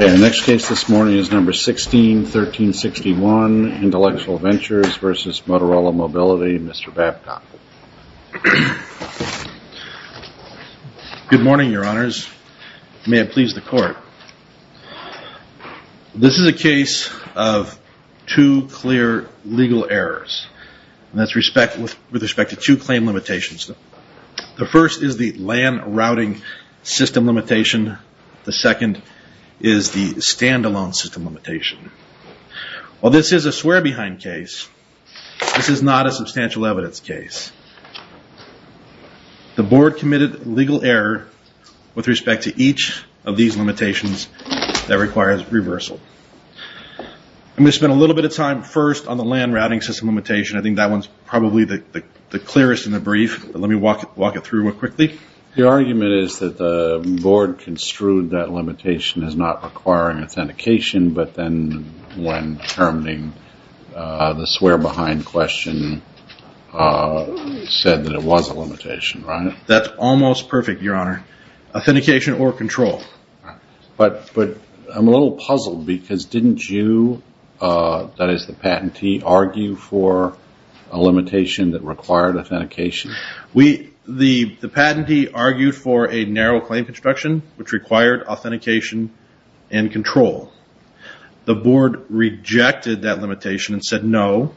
Okay, the next case this morning is number 161361, Intellectual Ventures versus Motorola Mobility, Mr. Babcock. Good morning, your honors. May it please the That's with respect to two claim limitations. The first is the LAN routing system limitation. The second is the standalone system limitation. While this is a swear behind case, this is not a substantial evidence case. The board committed legal error with respect to each of these limitations that requires reversal. I'm going to spend a little bit of time first on the LAN routing system limitation. I think that one's probably the clearest and the brief. Let me walk it through quickly. The argument is that the board construed that limitation as not requiring authentication, but then when terminating the swear behind question said that it was a limitation, right? That's almost perfect, your honor. Authentication or control. But I'm a little puzzled because didn't you, that is the patentee, argue for a limitation that required authentication? We, the patentee argued for a narrow claim construction which required authentication and control. The board rejected that limitation and said no.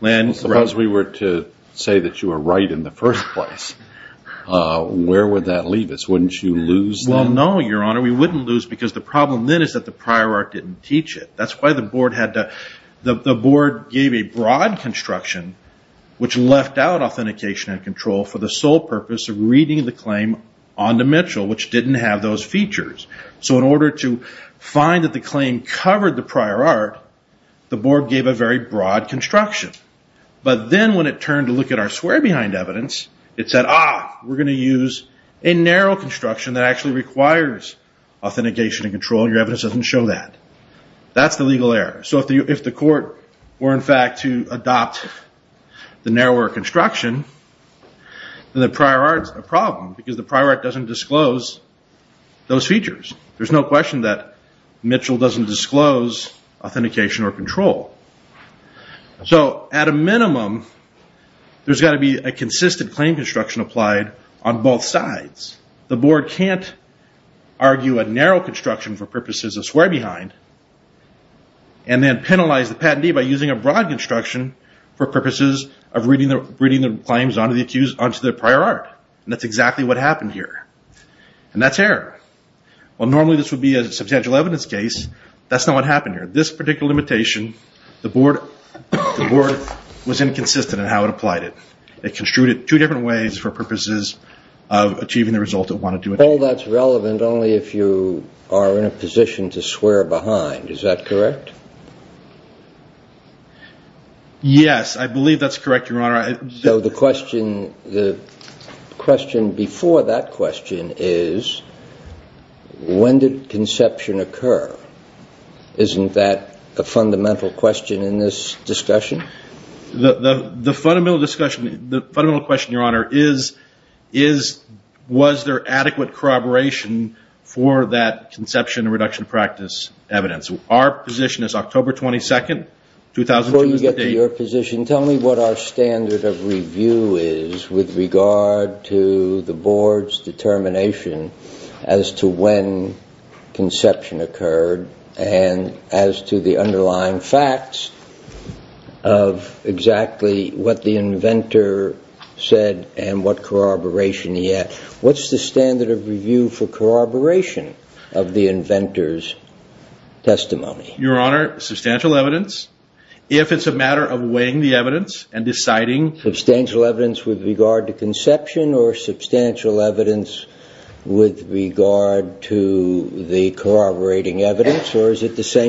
Suppose we were to say that you were right in the first place. Where would that leave us? Wouldn't you lose then? Well, no, your honor. We wouldn't lose because the problem then is that the prior art didn't teach it. That's why the board gave a broad construction which left out authentication and control for the sole purpose of reading the claim on the Mitchell, which didn't have those features. In order to find that the claim covered the prior art, the board gave a very broad construction. But then when it turned to look at our swear behind evidence, it said, ah, we're going to use a narrow construction that actually requires authentication and control. Your evidence doesn't show that. That's the legal error. So if the court were, in fact, to adopt the narrower construction, then the prior art is a problem because the prior art doesn't disclose those features. There's no question that Mitchell doesn't disclose authentication or control. So, at a minimum, there's got to be a consistent claim construction applied on both sides. The board can't argue a narrow construction for purposes of swear behind and then penalize the patentee by using a broad construction for purposes of reading the claims onto the prior art. And that's exactly what happened here. And that's error. Well, normally this would be a substantial evidence case. That's not what happened here. This particular limitation, the board was inconsistent in how it applied it. It construed it two different ways for purposes of achieving the result it wanted to achieve. Well, that's relevant only if you are in a position to swear behind. Is that correct? Yes, I believe that's correct, Your Honor. So the question before that question is, when did conception occur? Isn't that the question the fundamental question in this discussion? The fundamental question, Your Honor, is, was there adequate corroboration for that conception reduction practice evidence? Our position is October 22nd, 2008. Before you get to your position, tell me what our standard of review is with regard to the underlying facts of exactly what the inventor said and what corroboration he had. What's the standard of review for corroboration of the inventor's testimony? Your Honor, substantial evidence. If it's a matter of weighing the evidence and deciding substantial evidence with regard to conception or substantial evidence with regard to the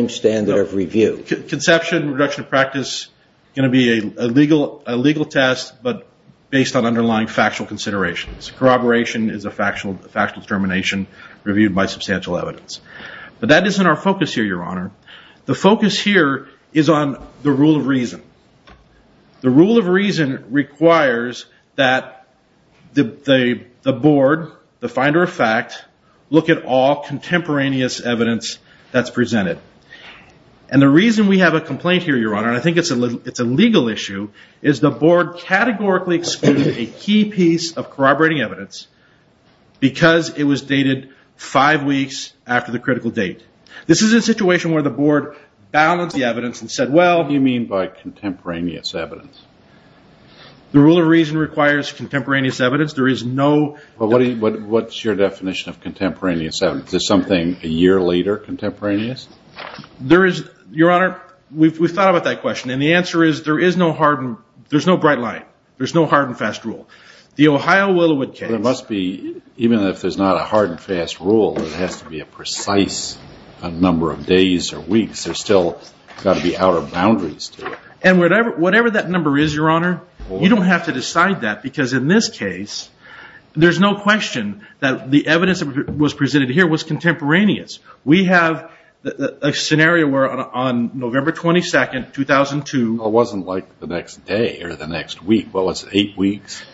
standard of review. Conception reduction practice is going to be a legal test, but based on underlying factual considerations. Corroboration is a factual determination reviewed by substantial evidence. But that isn't our focus here, Your Honor. The focus here is on the rule of reason. The rule of reason requires that the board, the finder of fact, look at all contemporaneous evidence that's presented. And the reason we have a complaint here, Your Honor, and I think it's a legal issue, is the board categorically excluded a key piece of corroborating evidence because it was dated five weeks after the critical date. This is a situation where the board balanced the evidence and said, well... What do you mean by contemporaneous evidence? The rule of reason requires contemporaneous evidence. There is no... What's your definition of contemporaneous evidence? Is there something a year later contemporaneous? There is, Your Honor, we've thought about that question, and the answer is there is no hard and... There's no bright light. There's no hard and fast rule. The Ohio Willowood case... There must be, even if there's not a hard and fast rule, there has to be a precise number of days or weeks. There's still got to be outer boundaries to it. And whatever that number is, Your Honor, you don't have to decide that because in this case, there's no question that the evidence that was presented here was contemporaneous. We have a scenario where on November 22nd, 2002... It wasn't like the next day or the next week. What was it, eight weeks?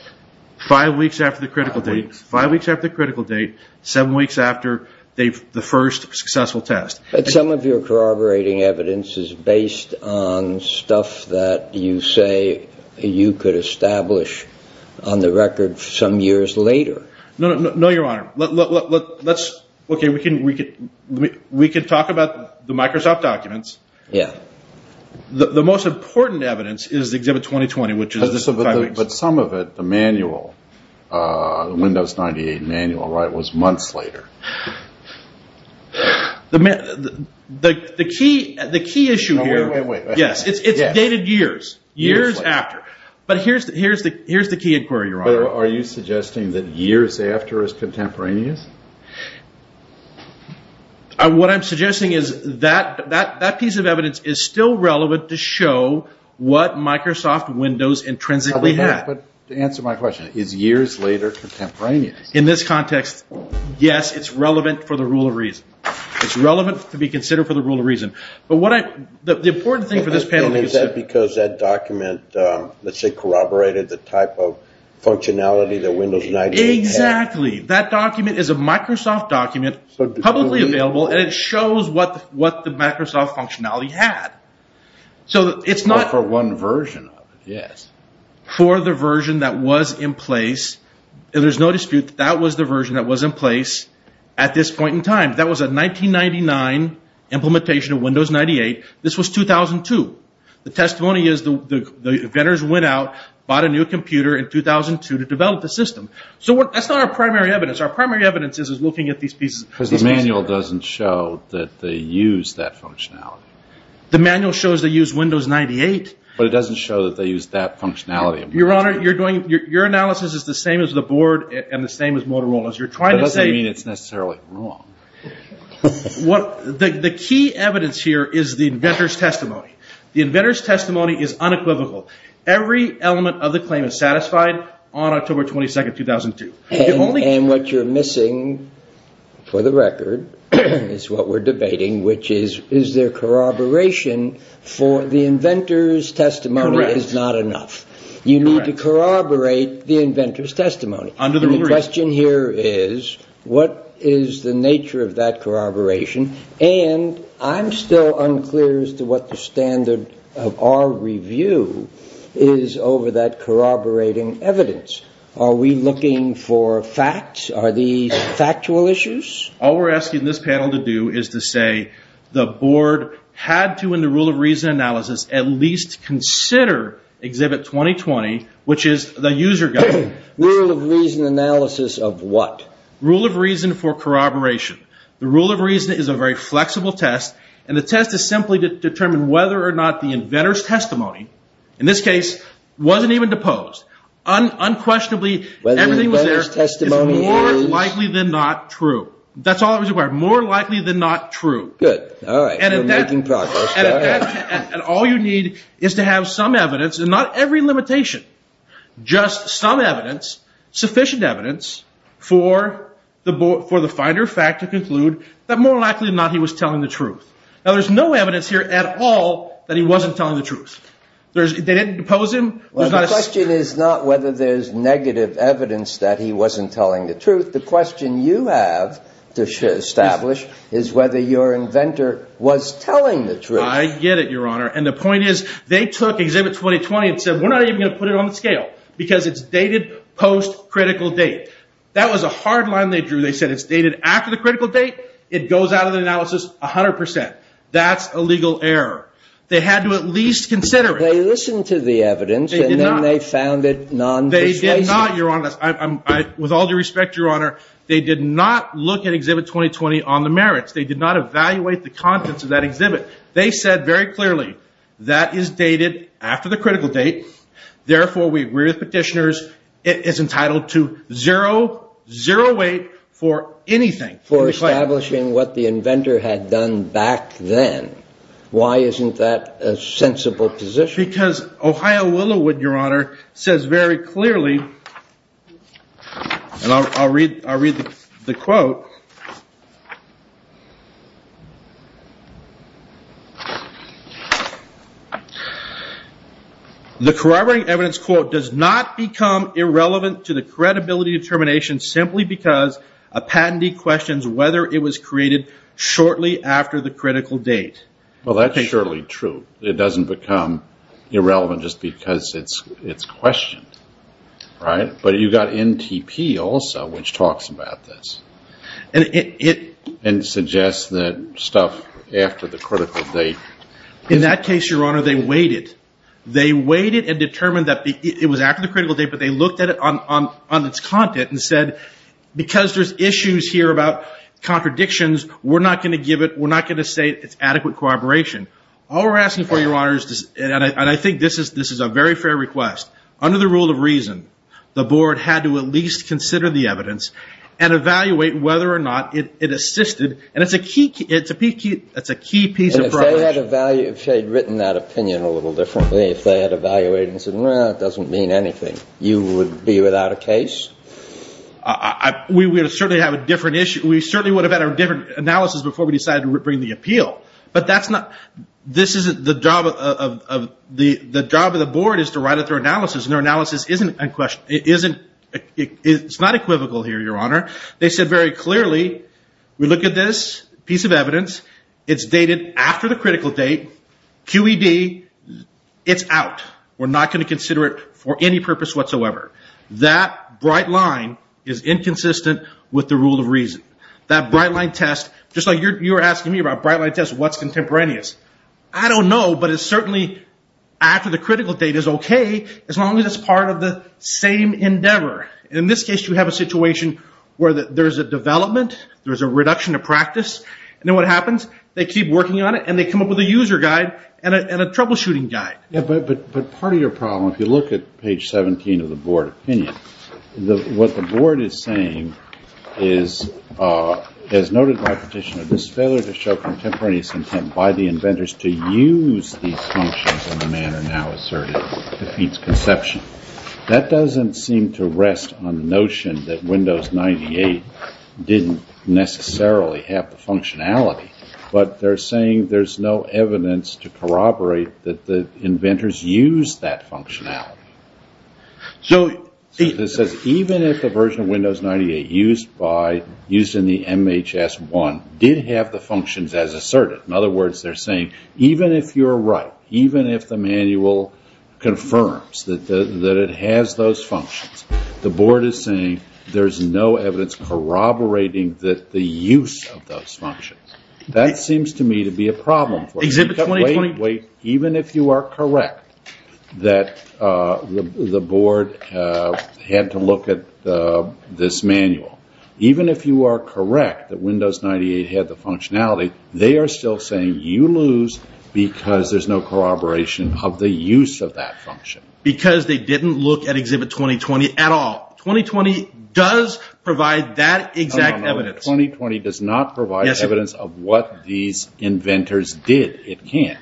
Five weeks after the critical date. Five weeks after the critical date, seven weeks after the first successful test. Some of your corroborating evidence is based on stuff that you say you could establish on the record some years later. No, Your Honor. Let's... Okay, we can talk about the Microsoft documents. The most important evidence is Exhibit 2020, which is the five weeks... But some of it, the manual, the Windows 98 manual, was months later. The key issue here... Wait, wait, wait. Yes, it's dated years. Years after. But here's the key inquiry, Your Honor. Are you suggesting that years after is contemporaneous? What I'm suggesting is that piece of evidence is still relevant to show what Microsoft Windows intrinsically had. But to answer my question, is years later contemporaneous? In this context, yes, it's relevant for the rule of reason. It's relevant to be considered for the rule of reason. But what I... The important thing for this panel is... Is that because that document, let's say, corroborated the type of functionality that Windows 98 had? Exactly. That document is a Microsoft document, publicly available, and it shows what the Microsoft functionality had. So it's not... For one version of it, yes. For the version that was in place, there's no dispute that that was the version that was in place at this point in time. That was a 1999 implementation of Windows 98. This was 2002. The testimony is the vendors went out, bought a new computer in 2002 to develop the system. So that's not our primary evidence. Our primary evidence is looking at these pieces of... Because the manual doesn't show that they used that functionality. The manual shows they used Windows 98. But it doesn't show that they used that functionality. Your Honor, you're doing... Your analysis is the same as the board and the same as Motorola's. You're trying to say... That doesn't mean it's necessarily wrong. What... The key evidence here is the inventor's testimony. The inventor's testimony is unequivocal. Every element of the claim is satisfied on October 22nd, 2002. And what you're missing, for the record, is what we're debating, which is, is there corroboration for the inventor's testimony is not enough. You need to corroborate the inventor's testimony. And the question here is, what is the nature of that corroboration? And I'm still unclear as to what the standard of our review is over that corroborating evidence. Are we looking for facts? Are these factual issues? All we're asking this panel to do is to say the board had to, in the rule of reason analysis, at least consider Exhibit 2020, which is the user guide. Rule of reason analysis of what? Rule of reason for corroboration. The rule of reason is a very flexible test. And the test is simply to determine whether or not the inventor's testimony, in this case, wasn't even deposed. Unquestionably, everything was there. Whether the inventor's testimony is... More likely than not true. That's all that was required. More likely than not true. Good. All right. We're making progress. And all you need is to have some evidence, and not every limitation. Just some evidence, sufficient evidence, for the finder of fact to conclude that more than likely than not, he was telling the truth. Now, there's no evidence here at all that he wasn't telling the truth. They didn't depose him. The question is not whether there's negative evidence that he wasn't telling the truth. The question you have to establish is whether your inventor was telling the truth. I get it, Your Honor. And the point is, they took Exhibit 2020 and said, we're not even going to put it on the scale. Because it's dated post-critical date. That was a hard line they drew. They said it's dated after the critical date. It goes out of the analysis 100%. That's a legal error. They had to at least consider it. Well, they listened to the evidence, and then they found it non-persuasive. They did not, Your Honor. With all due respect, Your Honor, they did not look at Exhibit 2020 on the merits. They did not evaluate the contents of that exhibit. They said very clearly, that is dated after the critical date. Therefore, we agree with petitioners. It is entitled to zero weight for anything. For establishing what the inventor had done back then. Why isn't that a sensible position? Because Ohio Willowood, Your Honor, says very clearly, and I'll read the quote. The corroborating evidence quote does not become irrelevant to the credibility determination simply because a patentee questions whether it was created shortly after the critical date. Well, that's surely true. It doesn't become irrelevant just because it's questioned. Right? But you've got NTP also, which talks about this. And suggests that stuff after the critical date. In that case, Your Honor, they weighed it. They weighed it and determined that it was after the critical date, but they looked at it on its content and said, because there's issues here about contradictions, we're not going to say it's adequate corroboration. All we're asking for, Your Honor, and I think this is a very fair request, under the rule of reason, the board had to at least consider the evidence and evaluate whether or not it assisted. And it's a key piece of corroboration. And if they had written that opinion a little differently, if they had evaluated and said, no, it doesn't mean anything, you would be without a case? We would certainly have a different issue. We certainly would have had a different analysis before we decided to bring the appeal. But that's not, this isn't the job of, the job of the board is to write out their analysis. And their analysis isn't, it's not equivocal here, Your Honor. They said very clearly, we look at this piece of evidence, it's dated after the critical date, QED, it's out. We're not going to consider it for any purpose whatsoever. That bright line is inconsistent with the rule of reason. That bright line test, just like you were asking me about bright line tests, what's contemporaneous? I don't know, but it's certainly after the critical date is okay, as long as it's part of the same endeavor. In this case, you have a situation where there's a development, there's a reduction of practice, and then what happens? They keep working on it, and they come up with a user guide, and a troubleshooting guide. But part of your problem, if you look at page 17 of the board opinion, what the board is saying is, as noted by petitioner, this failure to show contemporaneous intent by the inventors to use these functions in the manner now asserted defeats conception. That doesn't seem to rest on the notion that Windows 98 didn't necessarily have the functionality. But they're saying there's no evidence to corroborate that the inventors used that functionality. This says, even if the version of Windows 98 used in the MHS 1 did have the functions as asserted, in other words, they're saying, even if you're right, even if the manual confirms that it has those functions, the board is saying, there's no evidence corroborating the use of those functions. That seems to me to be a problem. Wait, wait, even if you are correct that the board had to look at this manual, even if you are correct that Windows 98 had the functionality, they are still saying you lose because there's no corroboration of the use of that function. Because they didn't look at Exhibit 2020 at all. 2020 does provide that exact evidence. Exhibit 2020 does not provide evidence of what these inventors did. It can't.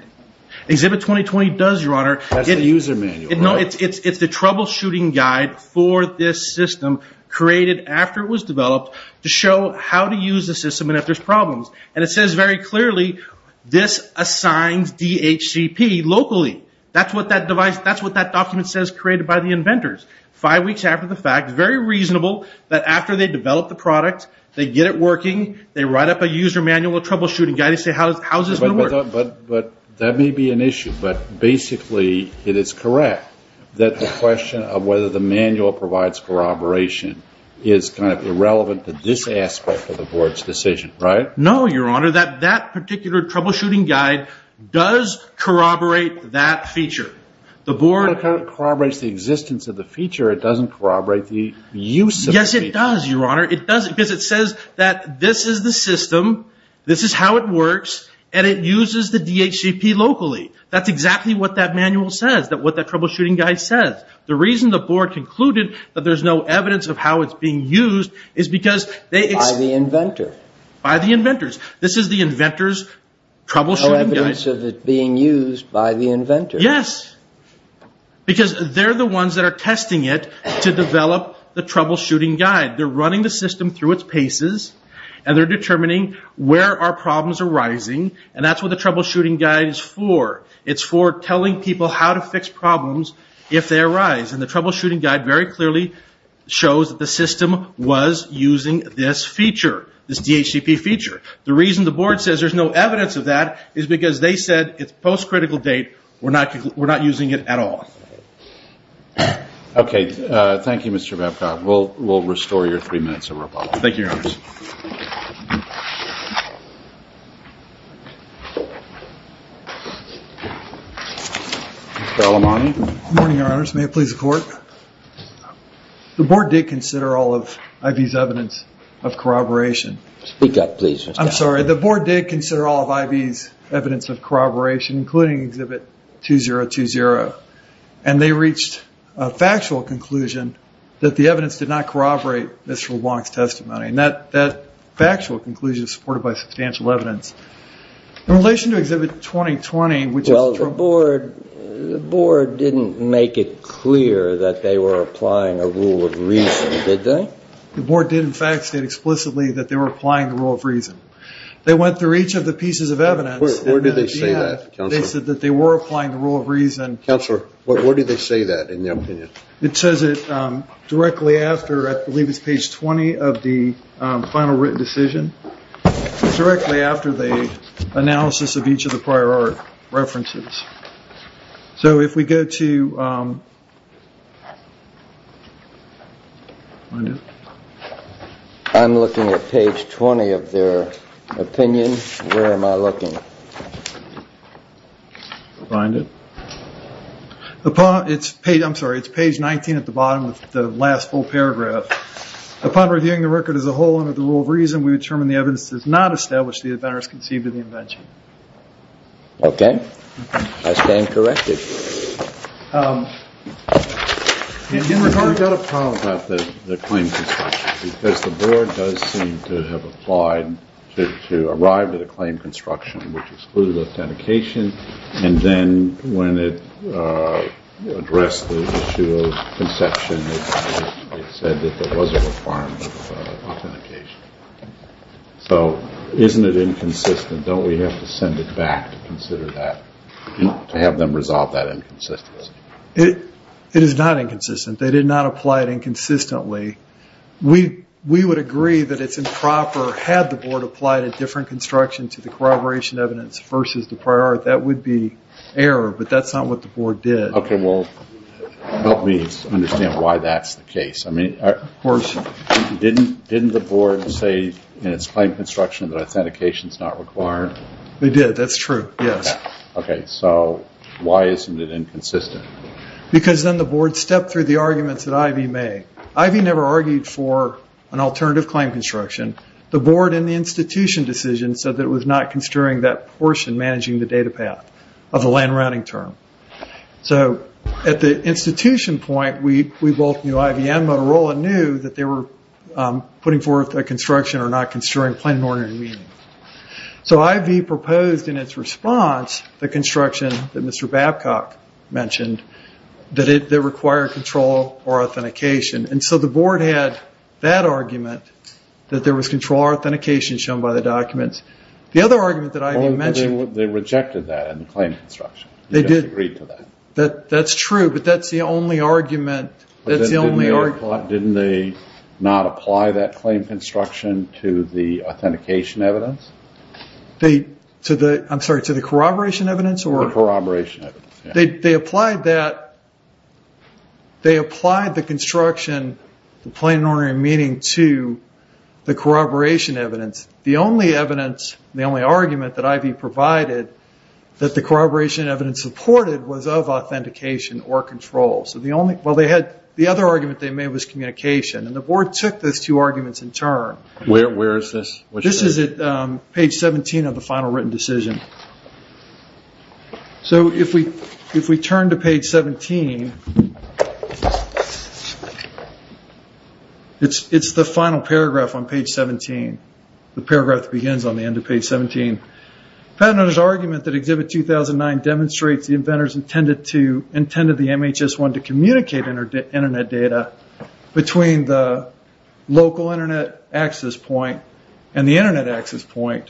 Exhibit 2020 does, Your Honor. That's the user manual, right? It's the troubleshooting guide for this system, created after it was developed, to show how to use the system and if there's problems. And it says very clearly, this assigns DHCP locally. That's what that document says created by the inventors. Five weeks after the fact, very reasonable, that after they develop the product, they get it working, they write up a user manual troubleshooting guide, they say, how is this going to work? But that may be an issue. But basically, it is correct that the question of whether the manual provides corroboration is kind of irrelevant to this aspect of the board's decision, right? No, Your Honor. That particular troubleshooting guide does corroborate that feature. The board... It kind of corroborates the existence of the feature, it doesn't corroborate the use of the feature. Yes, it does, Your Honor. It does, because it says that this is the system, this is how it works, and it uses the DHCP locally. That's exactly what that manual says, what that troubleshooting guide says. The reason the board concluded that there's no evidence of how it's being used is because they... By the inventor. By the inventors. This is the inventor's troubleshooting guide. No evidence of it being used by the inventor. Yes. Because they're the ones that are testing it to develop the troubleshooting guide. They're running the system through its paces, and they're determining where our problems are rising, and that's what the troubleshooting guide is for. It's for telling people how to fix problems if they arise. And the troubleshooting guide very clearly shows that the system was using this feature, this DHCP feature. The reason the board says there's no evidence of that is because they said it's post-critical date, we're not using it at all. Okay. Thank you, Mr. Babcock. We'll restore your three minutes of rebuttal. Thank you, Your Honor. Mr. Alemani. Good morning, Your Honors. May it please the Court. The board did consider all of IB's evidence of corroboration. Speak up, please. I'm sorry. The board did consider all of IB's evidence of corroboration, including Exhibit 2020, and they reached a factual conclusion that the evidence did not corroborate Mr. LeBlanc's testimony. And that factual conclusion is supported by substantial evidence. In relation to Exhibit 2020, which was... Well, the board didn't make it clear that they were applying a rule of reason, did they? The board did, in fact, state explicitly that they were applying the rule of reason. They went through each of the pieces of evidence... They said that they were applying the rule of reason... Counselor, where do they say that, in their opinion? It says it directly after, I believe it's page 20, of the final written decision. It's directly after the analysis of each of the prior art references. So if we go to... I'm looking at page 20 of their opinion. Where am I looking? Find it. I'm sorry, it's page 19 at the bottom, with the last full paragraph. Upon reviewing the record as a whole under the rule of reason, we determine the evidence does not establish the adventurous conceit of the invention. Okay. I stand corrected. And in regard to... We've got a problem about the claim construction, because the board does seem to have applied to arrive at a claim construction, which excluded authentication, and then when it addressed the issue of conception, it said that there was a requirement of authentication. So isn't it inconsistent? Don't we have to send it back to consider that? To have them resolve that inconsistency? It is not inconsistent. They did not apply it inconsistently. We would agree that it's improper, had the board applied a different construction to the corroboration evidence versus the prior, that would be error, but that's not what the board did. Okay, well, help me understand why that's the case. Of course. Didn't the board say in its claim construction that authentication's not required? They did, that's true, yes. Okay, so why isn't it inconsistent? Because then the board stepped through the arguments that Ivy made. Ivy never argued for an alternative claim construction. The board in the institution decision said that it was not construing that portion managing the data path of the land routing term. So at the institution point, we both knew, Ivy and Motorola knew, that they were putting forth a construction or not construing plain and ordinary meaning. So Ivy proposed in its response the construction that Mr. Babcock mentioned that it required control or authentication. And so the board had that argument that there was control or authentication shown by the documents. The other argument that Ivy mentioned... They rejected that in the claim construction. They did. That's true, but that's the only argument. Didn't they not apply that claim construction to the authentication evidence? I'm sorry, to the corroboration evidence? The corroboration evidence, yes. They applied that, they applied the construction, the plain and ordinary meaning, to the corroboration evidence. The only evidence, the only argument that Ivy provided, that the corroboration evidence supported was of authentication or control. The other argument they made was communication. And the board took those two arguments in turn. Where is this? This is at page 17 of the final written decision. So if we turn to page 17, it's the final paragraph on page 17. The paragraph that begins on the end of page 17. Patent owners' argument that Exhibit 2009 demonstrates the inventors intended the MHS-1 to communicate internet data between the local internet access point and the internet access point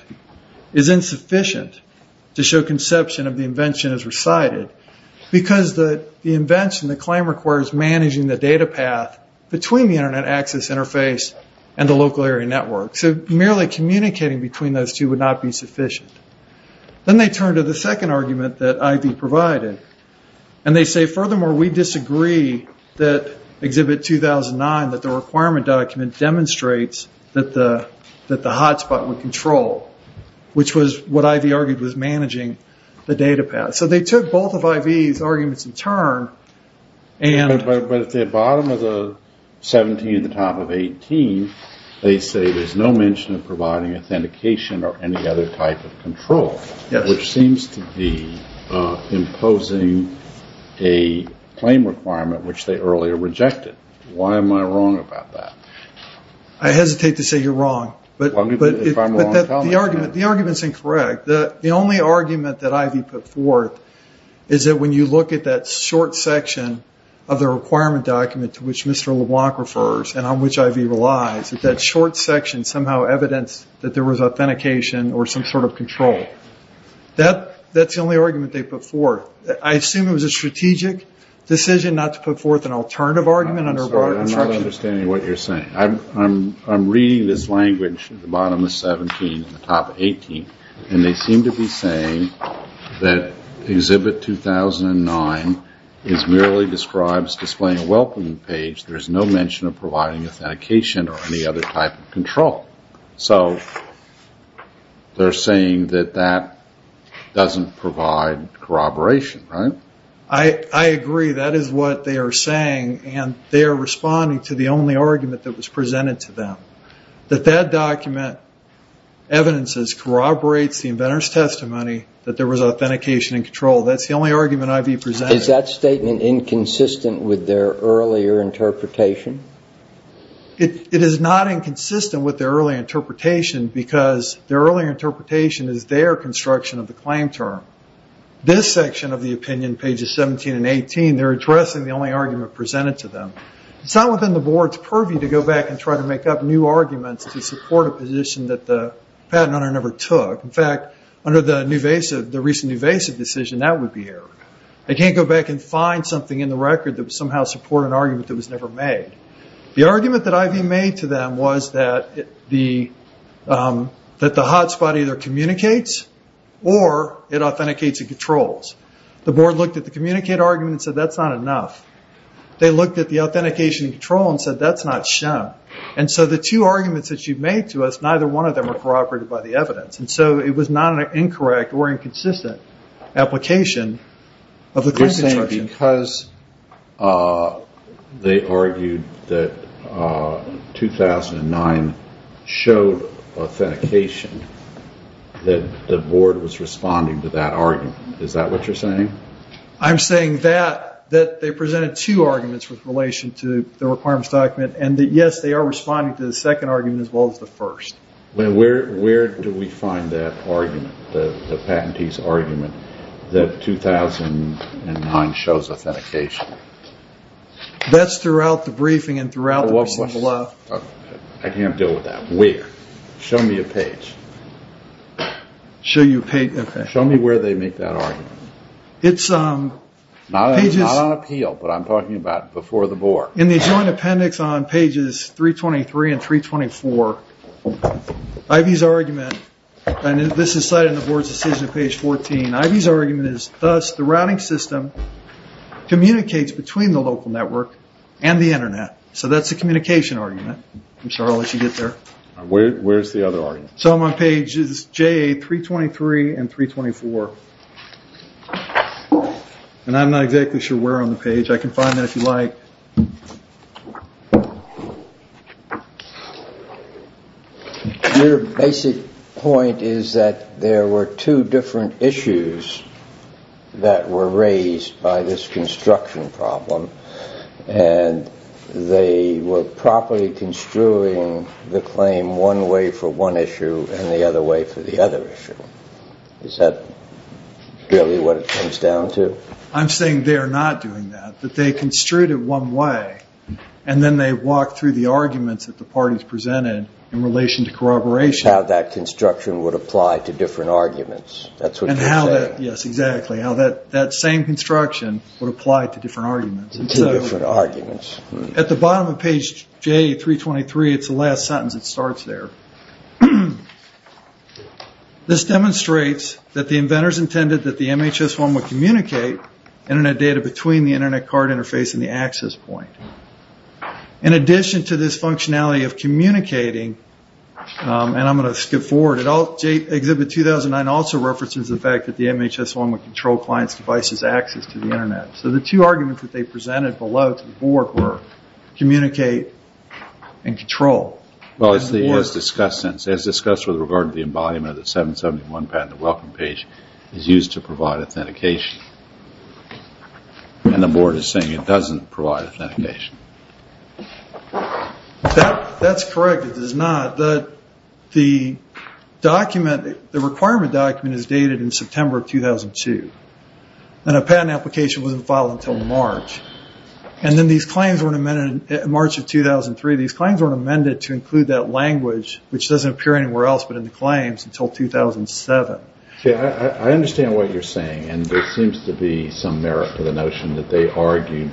is insufficient to show conception of the invention as recited. Because the invention, the claim requires managing the data path between the internet access interface and the local area network. So merely communicating between those two would not be sufficient. Then they turned to the second argument that Ivy provided. And they say, furthermore, we disagree that Exhibit 2009, that the requirement document demonstrates that the hotspot would control. Which was what Ivy argued was managing the data path. So they took both of Ivy's arguments in turn. But at the bottom of the 17 and the top of 18, they say there's no mention of providing authentication or any other type of control. Which seems to be imposing a claim requirement which they earlier rejected. Why am I wrong about that? I hesitate to say you're wrong. But the argument's incorrect. The only argument that Ivy put forth is that when you look at that short section of the requirement document to which Mr. LeBlanc refers and on which Ivy relies, that that short section somehow evidenced that there was authentication or some sort of control. That's the only argument they put forth. I assume it was a strategic decision not to put forth an alternative argument under a broader construction. I'm not understanding what you're saying. I'm reading this language at the bottom of 17 and the top of 18. And they seem to be saying that Exhibit 2009 merely describes displaying a welcoming page. There's no mention of providing authentication or any other type of control. So they're saying that that doesn't provide corroboration, right? I agree. That is what they are saying. And they are responding to the only argument that was presented to them. That that document evidences, corroborates the inventor's testimony that there was authentication and control. That's the only argument Ivy presented. Is that statement inconsistent with their earlier interpretation? It is not inconsistent with their earlier interpretation because their earlier interpretation is their construction of the claim term. This section of the opinion, pages 17 and 18, they're addressing the only argument presented to them. It's not within the board's purview to go back and try to make up new arguments to support a position that the patent owner never took. In fact, under the recent Nuvasiv decision, that would be errored. They can't go back and find something in the record that would somehow support an argument that was never made. The argument that Ivy made to them was that the hotspot either communicates or it authenticates and controls. The board looked at the communicate argument and said that's not enough. They looked at the authentication and control and said that's not shown. The two arguments that you've made to us, neither one of them are corroborated by the evidence. It was not an incorrect or inconsistent application of the claim construction. You're saying because they argued that 2009 showed authentication that the board was responding to that argument. Is that what you're saying? I'm saying that they presented two arguments with relation to the requirements document and yes, they are responding to the second argument as well as the first. Where do we find that argument? The patentee's argument that 2009 shows authentication? That's throughout the briefing and throughout the procedure. I can't deal with that. Where? Show me a page. Show you a page? Show me where they make that argument. It's... Not on appeal, but I'm talking about before the board. In the joint appendix on pages 323 and 324 Ivey's argument and this is cited in the board's decision on page 14 Ivey's argument is thus the routing system communicates between the local network and the internet. So that's the communication argument. I'm sure I'll let you get there. Where's the other argument? So I'm on pages JA323 and 324 and I'm not exactly sure where on the page. I can find that if you like. Your basic point is that there were two different issues that were raised by this construction problem and they were properly construing the claim one way for one issue and the other way for the other issue. Is that really what it comes down to? I'm saying they are not doing that. That they construed it one way and then they walked through the arguments that the parties presented in relation to corroboration. How that construction would apply to different arguments. That's what you're saying. Yes, exactly. How that same construction would apply to different arguments. Two different arguments. At the bottom of page JA323 it's the last sentence that starts there. This demonstrates that the inventors intended that the MHS-1 would communicate internet data between the internet card interface and the access point. In addition to this functionality of communicating and I'm going to skip forward Exhibit 2009 also references the fact that the MHS-1 would control clients devices access to the internet. So the two arguments that they presented below to the board were communicate and control. As discussed with regard to the embodiment of the 771 patented welcome page is used to provide authentication. And the board is saying it doesn't provide authentication. That's correct. It does not. The document the requirement document is dated in September 2002. And a patent application wasn't filed until March. And then these claims weren't amended in March of 2003 these claims weren't amended to include that language which doesn't appear anywhere else but in the claims until 2007. I understand what you're saying and there seems to be some merit to the notion that they argued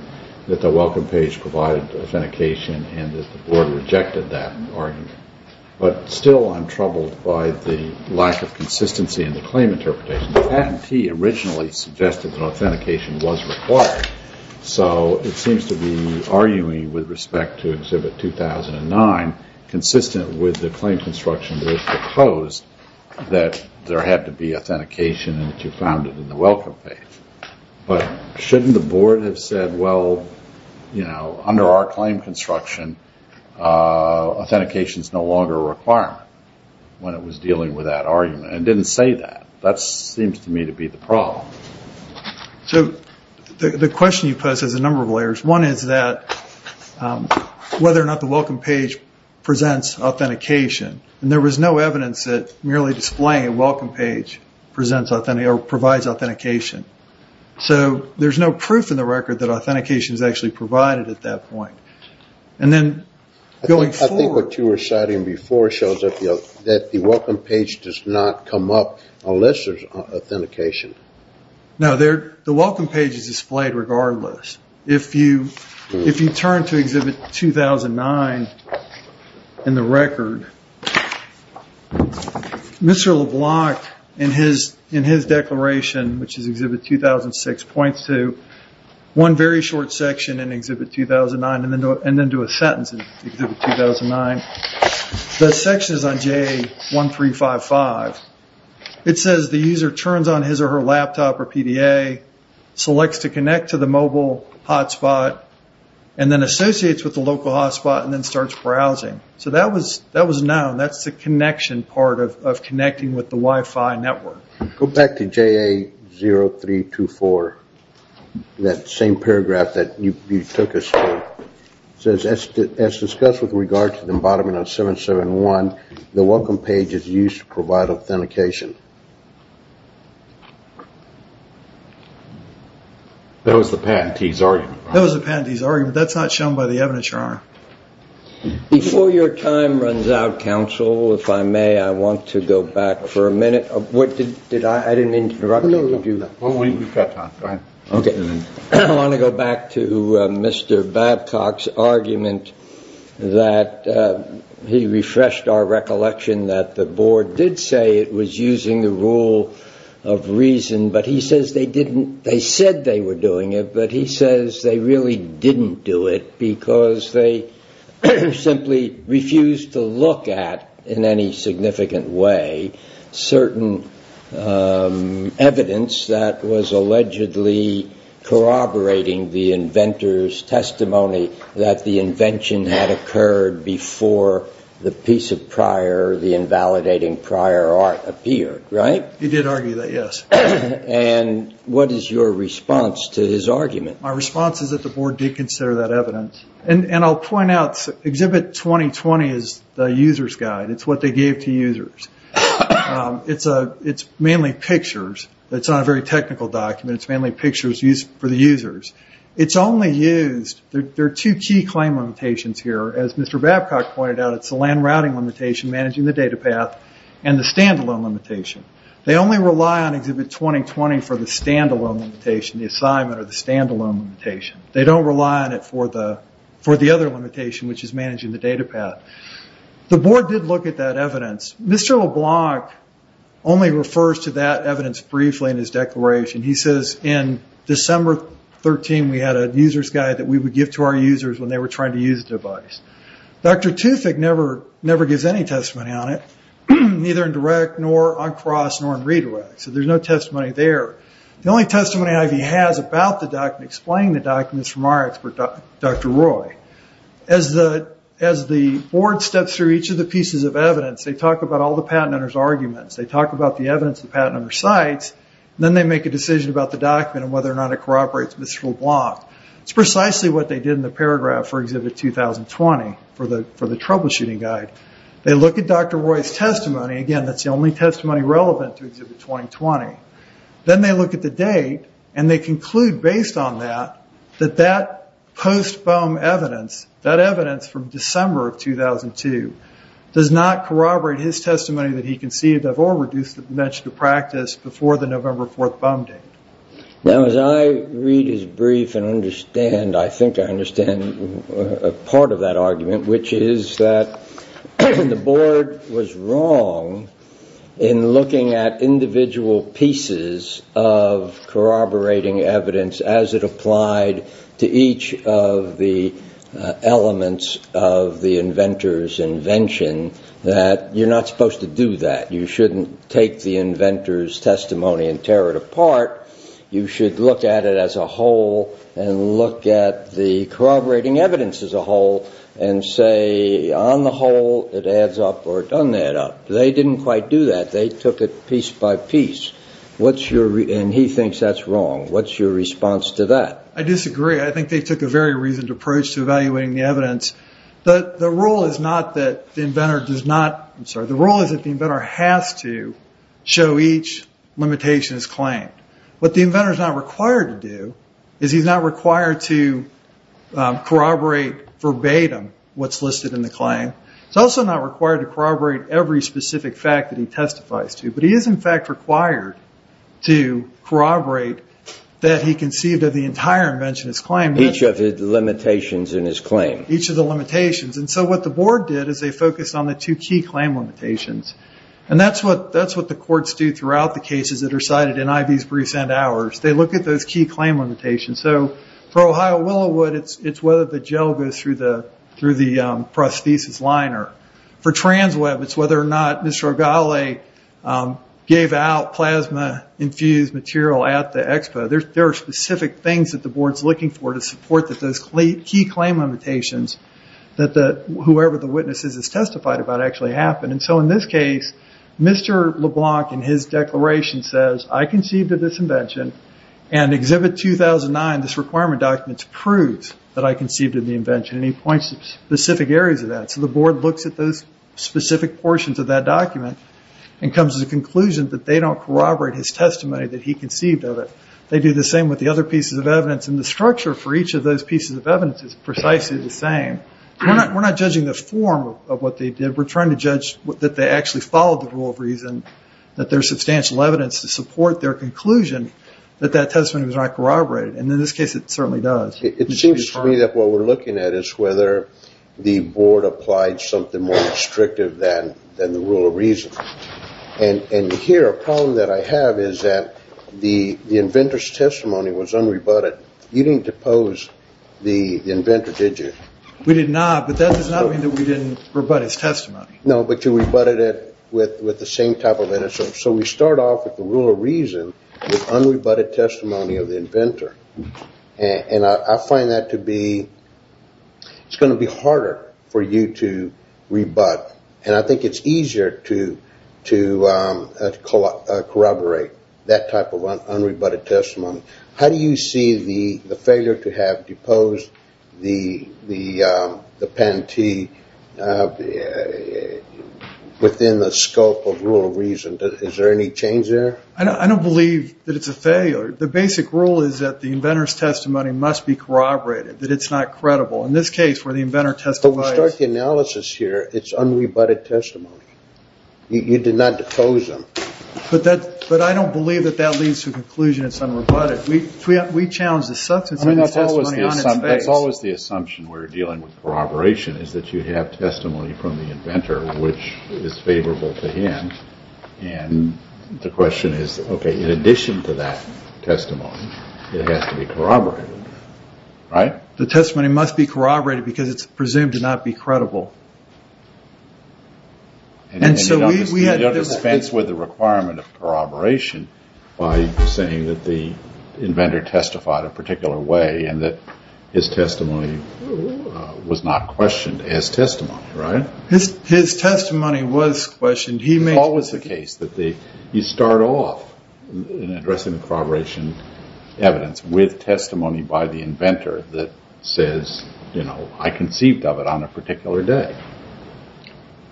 that the welcome page provided authentication and that the board rejected that argument. But still I'm troubled by the lack of consistency in the claim interpretation. The patentee originally suggested that authentication was required so it seems to be arguing with respect to exhibit 2009 consistent with the claim construction that was proposed that there had to be authentication and that you found it in the welcome page. But shouldn't the board have said well you know under our claim construction authentication is no longer a requirement when it was dealing with that argument and didn't say that. That seems to me to be the problem. So the question you posed has a number of layers one is that whether or not the welcome page presents authentication and there was no evidence that merely displaying a welcome page provides authentication so there's no proof in the record that authentication is actually provided at that point. I think what you were citing before shows that the welcome page does not come up unless there's authentication No, the welcome page is displayed regardless. If you turn to exhibit 2009 in the record Mr. LeBlanc in his declaration which is exhibit 2006 points to one very short section in exhibit 2009 and then to a sentence in exhibit 2009 the section is on JA1355 it says the user turns on his or her laptop or PDA selects to connect to the mobile hotspot and then associates with the local hotspot and then starts browsing. So that was known, that's the connection part of connecting with the Wi-Fi network. Go back to JA0324 that same paragraph that you took us through it says as discussed with regard to the embodiment of 771 the welcome page is used to provide authentication. That was the patentee's argument that's not shown by the evidence your honor. Before your time runs out counsel, if I may I want to go back for a minute I didn't interrupt you did you? I want to go back to Mr. Babcock's argument that he refreshed our recollection that the board did say it was using the rule of reason but he says they didn't they said they were doing it but he says they really didn't do it because they simply refused to look at in any significant way certain evidence that was allegedly corroborating the inventor's testimony that the piece of prior the invalidating prior art appeared, right? He did argue that, yes. And what is your response to his argument? My response is that the board did consider that evidence and I'll point out exhibit 2020 is the user's guide. It's what they gave to users. It's mainly pictures. It's not a very technical document. It's mainly pictures used for the users. It's only used, there are two key claim limitations here. As Mr. Babcock pointed out, it's the LAN routing limitation managing the data path and the stand-alone limitation. They only rely on exhibit 2020 for the stand-alone limitation, the assignment or the stand-alone limitation. They don't rely on it for the other limitation which is managing the data path. The board did look at that evidence. Mr. LeBlanc only refers to that evidence briefly in his declaration. He says in December 13 we had a user's guide that we would give to our users when they were trying to use the device. Dr. Tufek never gives any testimony on it. Neither in direct nor on cross nor in redirect. So there's no testimony there. The only testimony that he has about the document, explaining the document is from our expert, Dr. Roy. As the board steps through each of the pieces of evidence, they talk about all the patent owners' arguments. They talk about the evidence the patent owner cites. Then they make a decision about the document and whether or not it is relevant. Obviously what they did in the paragraph for Exhibit 2020, for the troubleshooting guide, they look at Dr. Roy's testimony. Again, that's the only testimony relevant to Exhibit 2020. Then they look at the date and they conclude, based on that, that that post-bum evidence, that evidence from December of 2002 does not corroborate his testimony that he conceded of or reduced the dimension to practice before the November 4th bum date. Now as I read his brief and understand, I think I understand a part of that argument, which is that the board was wrong in looking at individual pieces of corroborating evidence as it applied to each of the elements of the inventor's invention, that you're not supposed to do that. You shouldn't take the inventor's claim, you should look at it as a whole and look at the corroborating evidence as a whole and say, on the whole, it adds up or it doesn't add up. They didn't quite do that. They took it piece by piece. And he thinks that's wrong. What's your response to that? I disagree. I think they took a very reasoned approach to evaluating the evidence. The rule is not that the inventor does not, I'm sorry, the rule is that the inventor has to show each limitation as claimed. What the inventor is not required to do is he's not required to corroborate verbatim what's listed in the claim. He's also not required to corroborate every specific fact that he testifies to. But he is, in fact, required to corroborate that he conceived of the entire invention as claimed. Each of the limitations in his claim. Each of the limitations. So what the board did is they focused on the two key claim limitations. And that's what the courts do throughout the cases that are cited in I.V.'s briefs and ours. They look at those key claim limitations. So for Ohio Willowood, it's whether the gel goes through the prosthesis liner. For TransWeb, it's whether or not Mr. Ogale gave out plasma infused material at the expo. There are specific things that the board is looking for to support those key claim limitations that whoever the witness is testified about actually happened. And so in this case, Mr. LeBlanc in his declaration says, I conceived of this invention, and Exhibit 2009, this requirement document proves that I conceived of the invention. And he points to specific areas of that. So the board looks at those specific portions of that document and comes to the conclusion that they don't corroborate his testimony that he conceived of it. They do the same with the other pieces of evidence and the structure for each of those pieces of evidence is precisely the same. We're not judging the form of what they did. We're trying to judge that they actually followed the rule of reason, that there's substantial evidence to support their conclusion that that testimony was not corroborated. And in this case, it certainly does. It seems to me that what we're looking at is whether the board applied something more restrictive than the rule of reason. And here, a problem that I have is that the inventor's testimony was unrebutted. You didn't depose the inventor, did you? We did not, but that does not mean that we didn't rebut his testimony. No, but you rebutted it with the same type of innocence. So we start off with the rule of reason with unrebutted testimony of the inventor. And I find that to be it's going to be harder for you to rebut. And I think it's easier to corroborate that type of unrebutted testimony. How do you see the failure to have deposed the penalty within the scope of rule of reason? Is there any change there? I don't believe that it's a failure. The basic rule is that the inventor's testimony must be corroborated, that it's not credible. In this case, where the inventor testifies... But we start the analysis here, it's unrebutted testimony. You did not depose them. But I don't believe that that leads to a conclusion it's unrebutted. We challenge the substance of the testimony on its face. That's always the assumption when we're dealing with corroboration, is that you have testimony from the inventor which is favorable to him. And the question is, okay, in addition to that testimony, it has to be corroborated. Right? The testimony must be corroborated because it's presumed to not be credible. And so we... You don't dispense with the requirement of that the inventor testified a particular way and that his testimony was not questioned as testimony, right? His testimony was questioned. He may... It's always the case that you start off in addressing the corroboration evidence with testimony by the inventor that says, you know, I conceived of it on a particular day.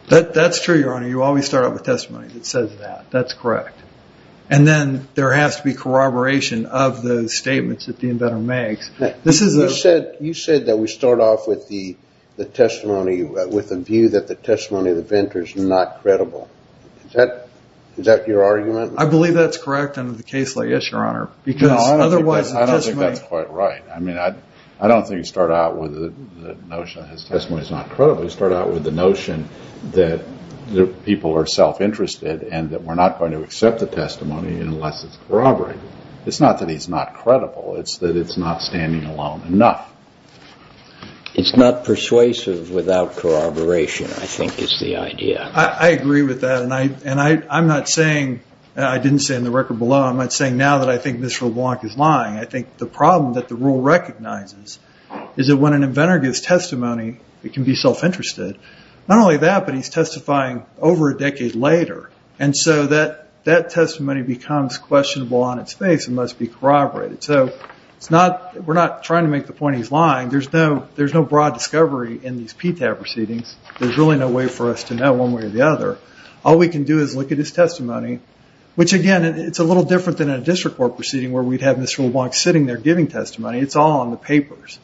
That's true, Your Honor. You always start off with testimony that says that. That's correct. And then there has to be corroboration of the statements that the inventor makes. This is... You said that we start off with the testimony, with the view that the testimony of the inventor is not credible. Is that your argument? I believe that's correct under the case law, yes, Your Honor. I don't think that's quite right. I mean, I don't think you start out with the notion that his testimony is not credible. You start out with the notion that people are self-interested and that we're not going to accept the testimony unless it's corroborated. It's not that he's not credible. It's that it's not standing alone enough. It's not persuasive without corroboration, I think is the idea. I agree with that, and I'm not saying... I didn't say in the record below, I'm not saying now that I think Mr. LeBlanc is lying. I think the problem that the rule recognizes is that when an inventor gives testimony, it can be self-interested. Not only that, but he's testifying over a decade later, and so that testimony becomes questionable on its face and must be corroborated. So, we're not trying to make the point he's lying. There's no broad discovery in these PTAB proceedings. There's really no way for us to know one way or the other. All we can do is look at his testimony, which again, it's a little different than a district court proceeding where we'd have Mr. LeBlanc sitting there giving testimony. It's all on the papers.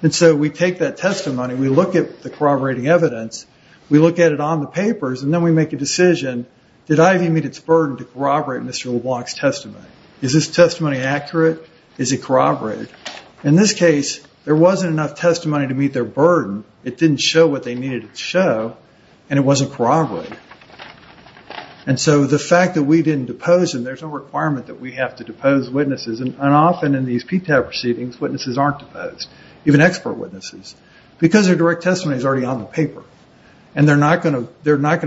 And so we take that testimony, we look at the corroborating evidence, we look at it on the papers, and then we make a decision, did Ivey meet its burden to corroborate Mr. LeBlanc's testimony? Is his testimony accurate? Is it corroborated? In this case, there wasn't enough testimony to meet their burden. It didn't show what they needed to show, and it wasn't corroborated. And so the fact that we didn't depose him, there's no requirement that we have to depose witnesses, and often in these PTAB proceedings, witnesses aren't deposed. Even expert witnesses. Because their direct testimony is already on the paper. And they're not going to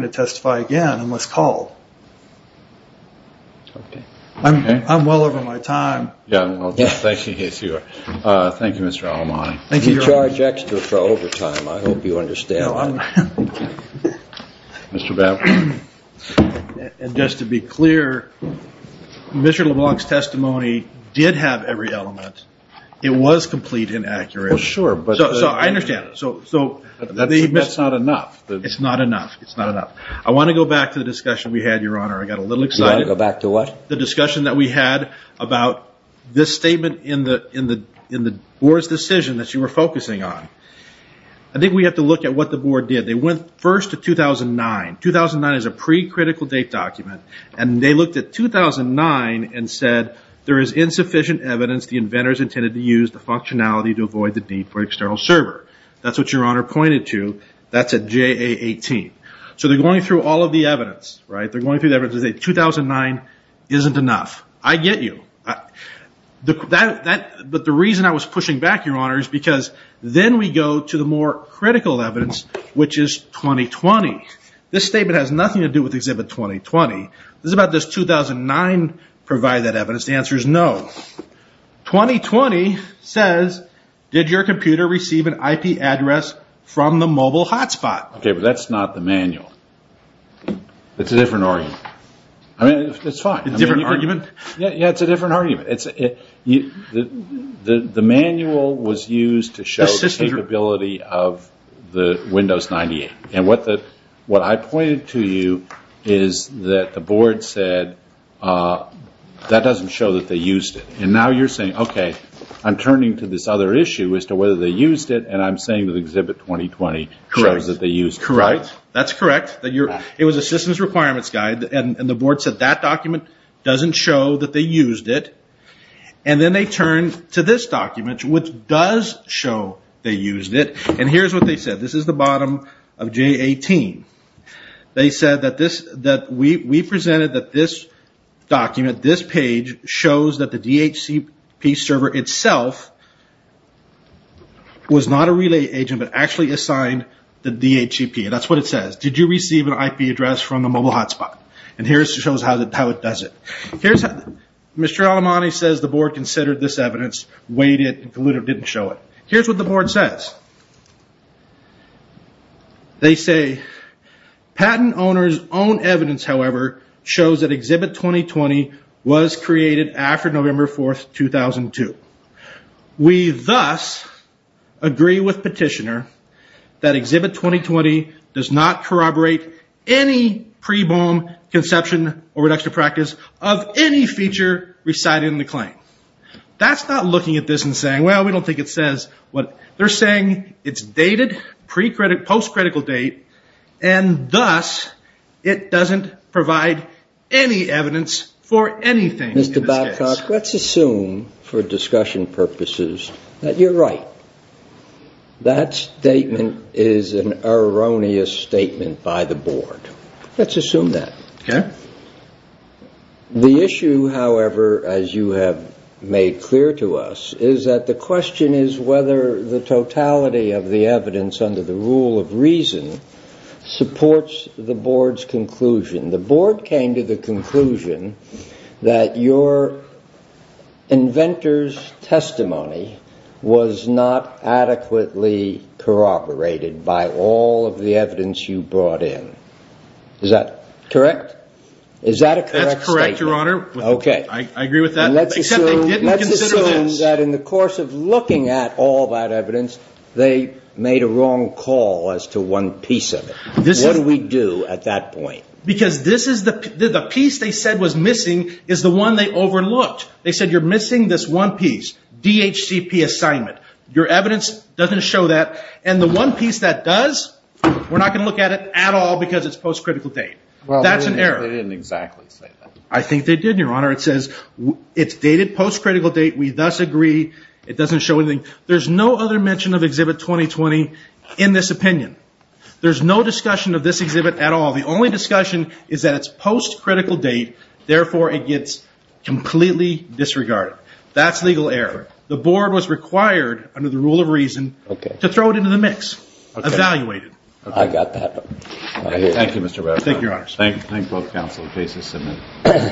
testify again unless called. I'm well over my time. Thank you, Mr. Alamani. You charge extra for overtime. I hope you understand. And just to be clear, Mr. LeBlanc's testimony did have every element. It was complete and accurate. So I understand. That's not enough. It's not enough. It's not enough. I want to go back to the discussion we had, Your Honor. I got a little excited. You want to go back to what? The discussion that we had about this statement in the board's decision that you were focusing on. I think we have to look at what the board did. They went first to 2009. 2009 is a pre-critical date document. And they looked at 2009 and said there is insufficient evidence the inventors intended to use the functionality to avoid the need for external server. That's what Your Honor pointed to. That's at JA 18. So they're going through all of the evidence. They're going through the evidence to say 2009 isn't enough. I get you. But the reason I was pushing back, Your Honor, is because then we go to the more critical evidence which is 2020. This statement has nothing to do with exhibit 2020. It's about does 2009 provide that evidence? The answer is no. 2020 says did your computer receive an IP address from the mobile hotspot? That's not the manual. It's a different argument. It's fine. It's a different argument. The manual was used to show the capability of the Windows 98. What I pointed to you is that the board said that doesn't show that they used it. Now you're saying okay I'm turning to this other issue as to whether they used it and I'm saying that exhibit 2020 shows that they used it. Correct. That's correct. It was assistance requirements guide and the board said that document doesn't show that they used it. Then they turn to this document which does show they used it. Here's what they said. This is the bottom of JA 18. They said that we presented that this document, this page shows that the DHCP server itself was not a relay agent but actually assigned the DHCP. That's what it says. Did you receive an IP address from the mobile hotspot? Here it shows how it does it. Mr. Alemani says the board considered this evidence, weighed it and concluded it didn't show it. Here's what the board says. They say patent owner's own evidence however shows that exhibit 2020 was created after November 4, 2002. We thus agree with petitioner that exhibit 2020 does not corroborate any pre-bomb conception or reduction of practice of any feature recited in the claim. That's not looking at this and saying well we don't think it says. They're saying it's dated, pre-critical, post-critical date and thus it doesn't provide any evidence for anything. Mr. Babcock, let's assume for discussion purposes that you're right. That statement is an erroneous statement by the board. Let's assume that. Okay. The issue however, as you have made clear to us is that the question is whether the totality of the evidence under the rule of reason supports the board's conclusion. The board came to the conclusion that your inventor's testimony was not adequately corroborated by all of the evidence you brought in. Is that correct? Is that a correct statement? That's correct, your honor. I agree with that. Except they didn't consider this. That in the course of looking at all that evidence, they made a wrong call as to one piece of it. What do we do at that point? Because this is the piece they said was missing is the one they overlooked. They said you're missing this one piece. DHCP assignment. Your evidence doesn't show that. And the one piece that does, we're not going to look at it at all because it's post-critical date. That's an error. They didn't exactly say that. I think they did, your honor. It says it's dated post-critical date. We thus agree. It doesn't show anything. There's no other mention of Exhibit 2020 in this opinion. There's no discussion of this exhibit at all. The only discussion is that it's post-critical date. Therefore, it gets completely disregarded. That's legal error. The board was required, under the rule of reason, to throw it into the mix. Evaluated. I got that. Thank you, Mr. Rafferty. Thank you, your honor.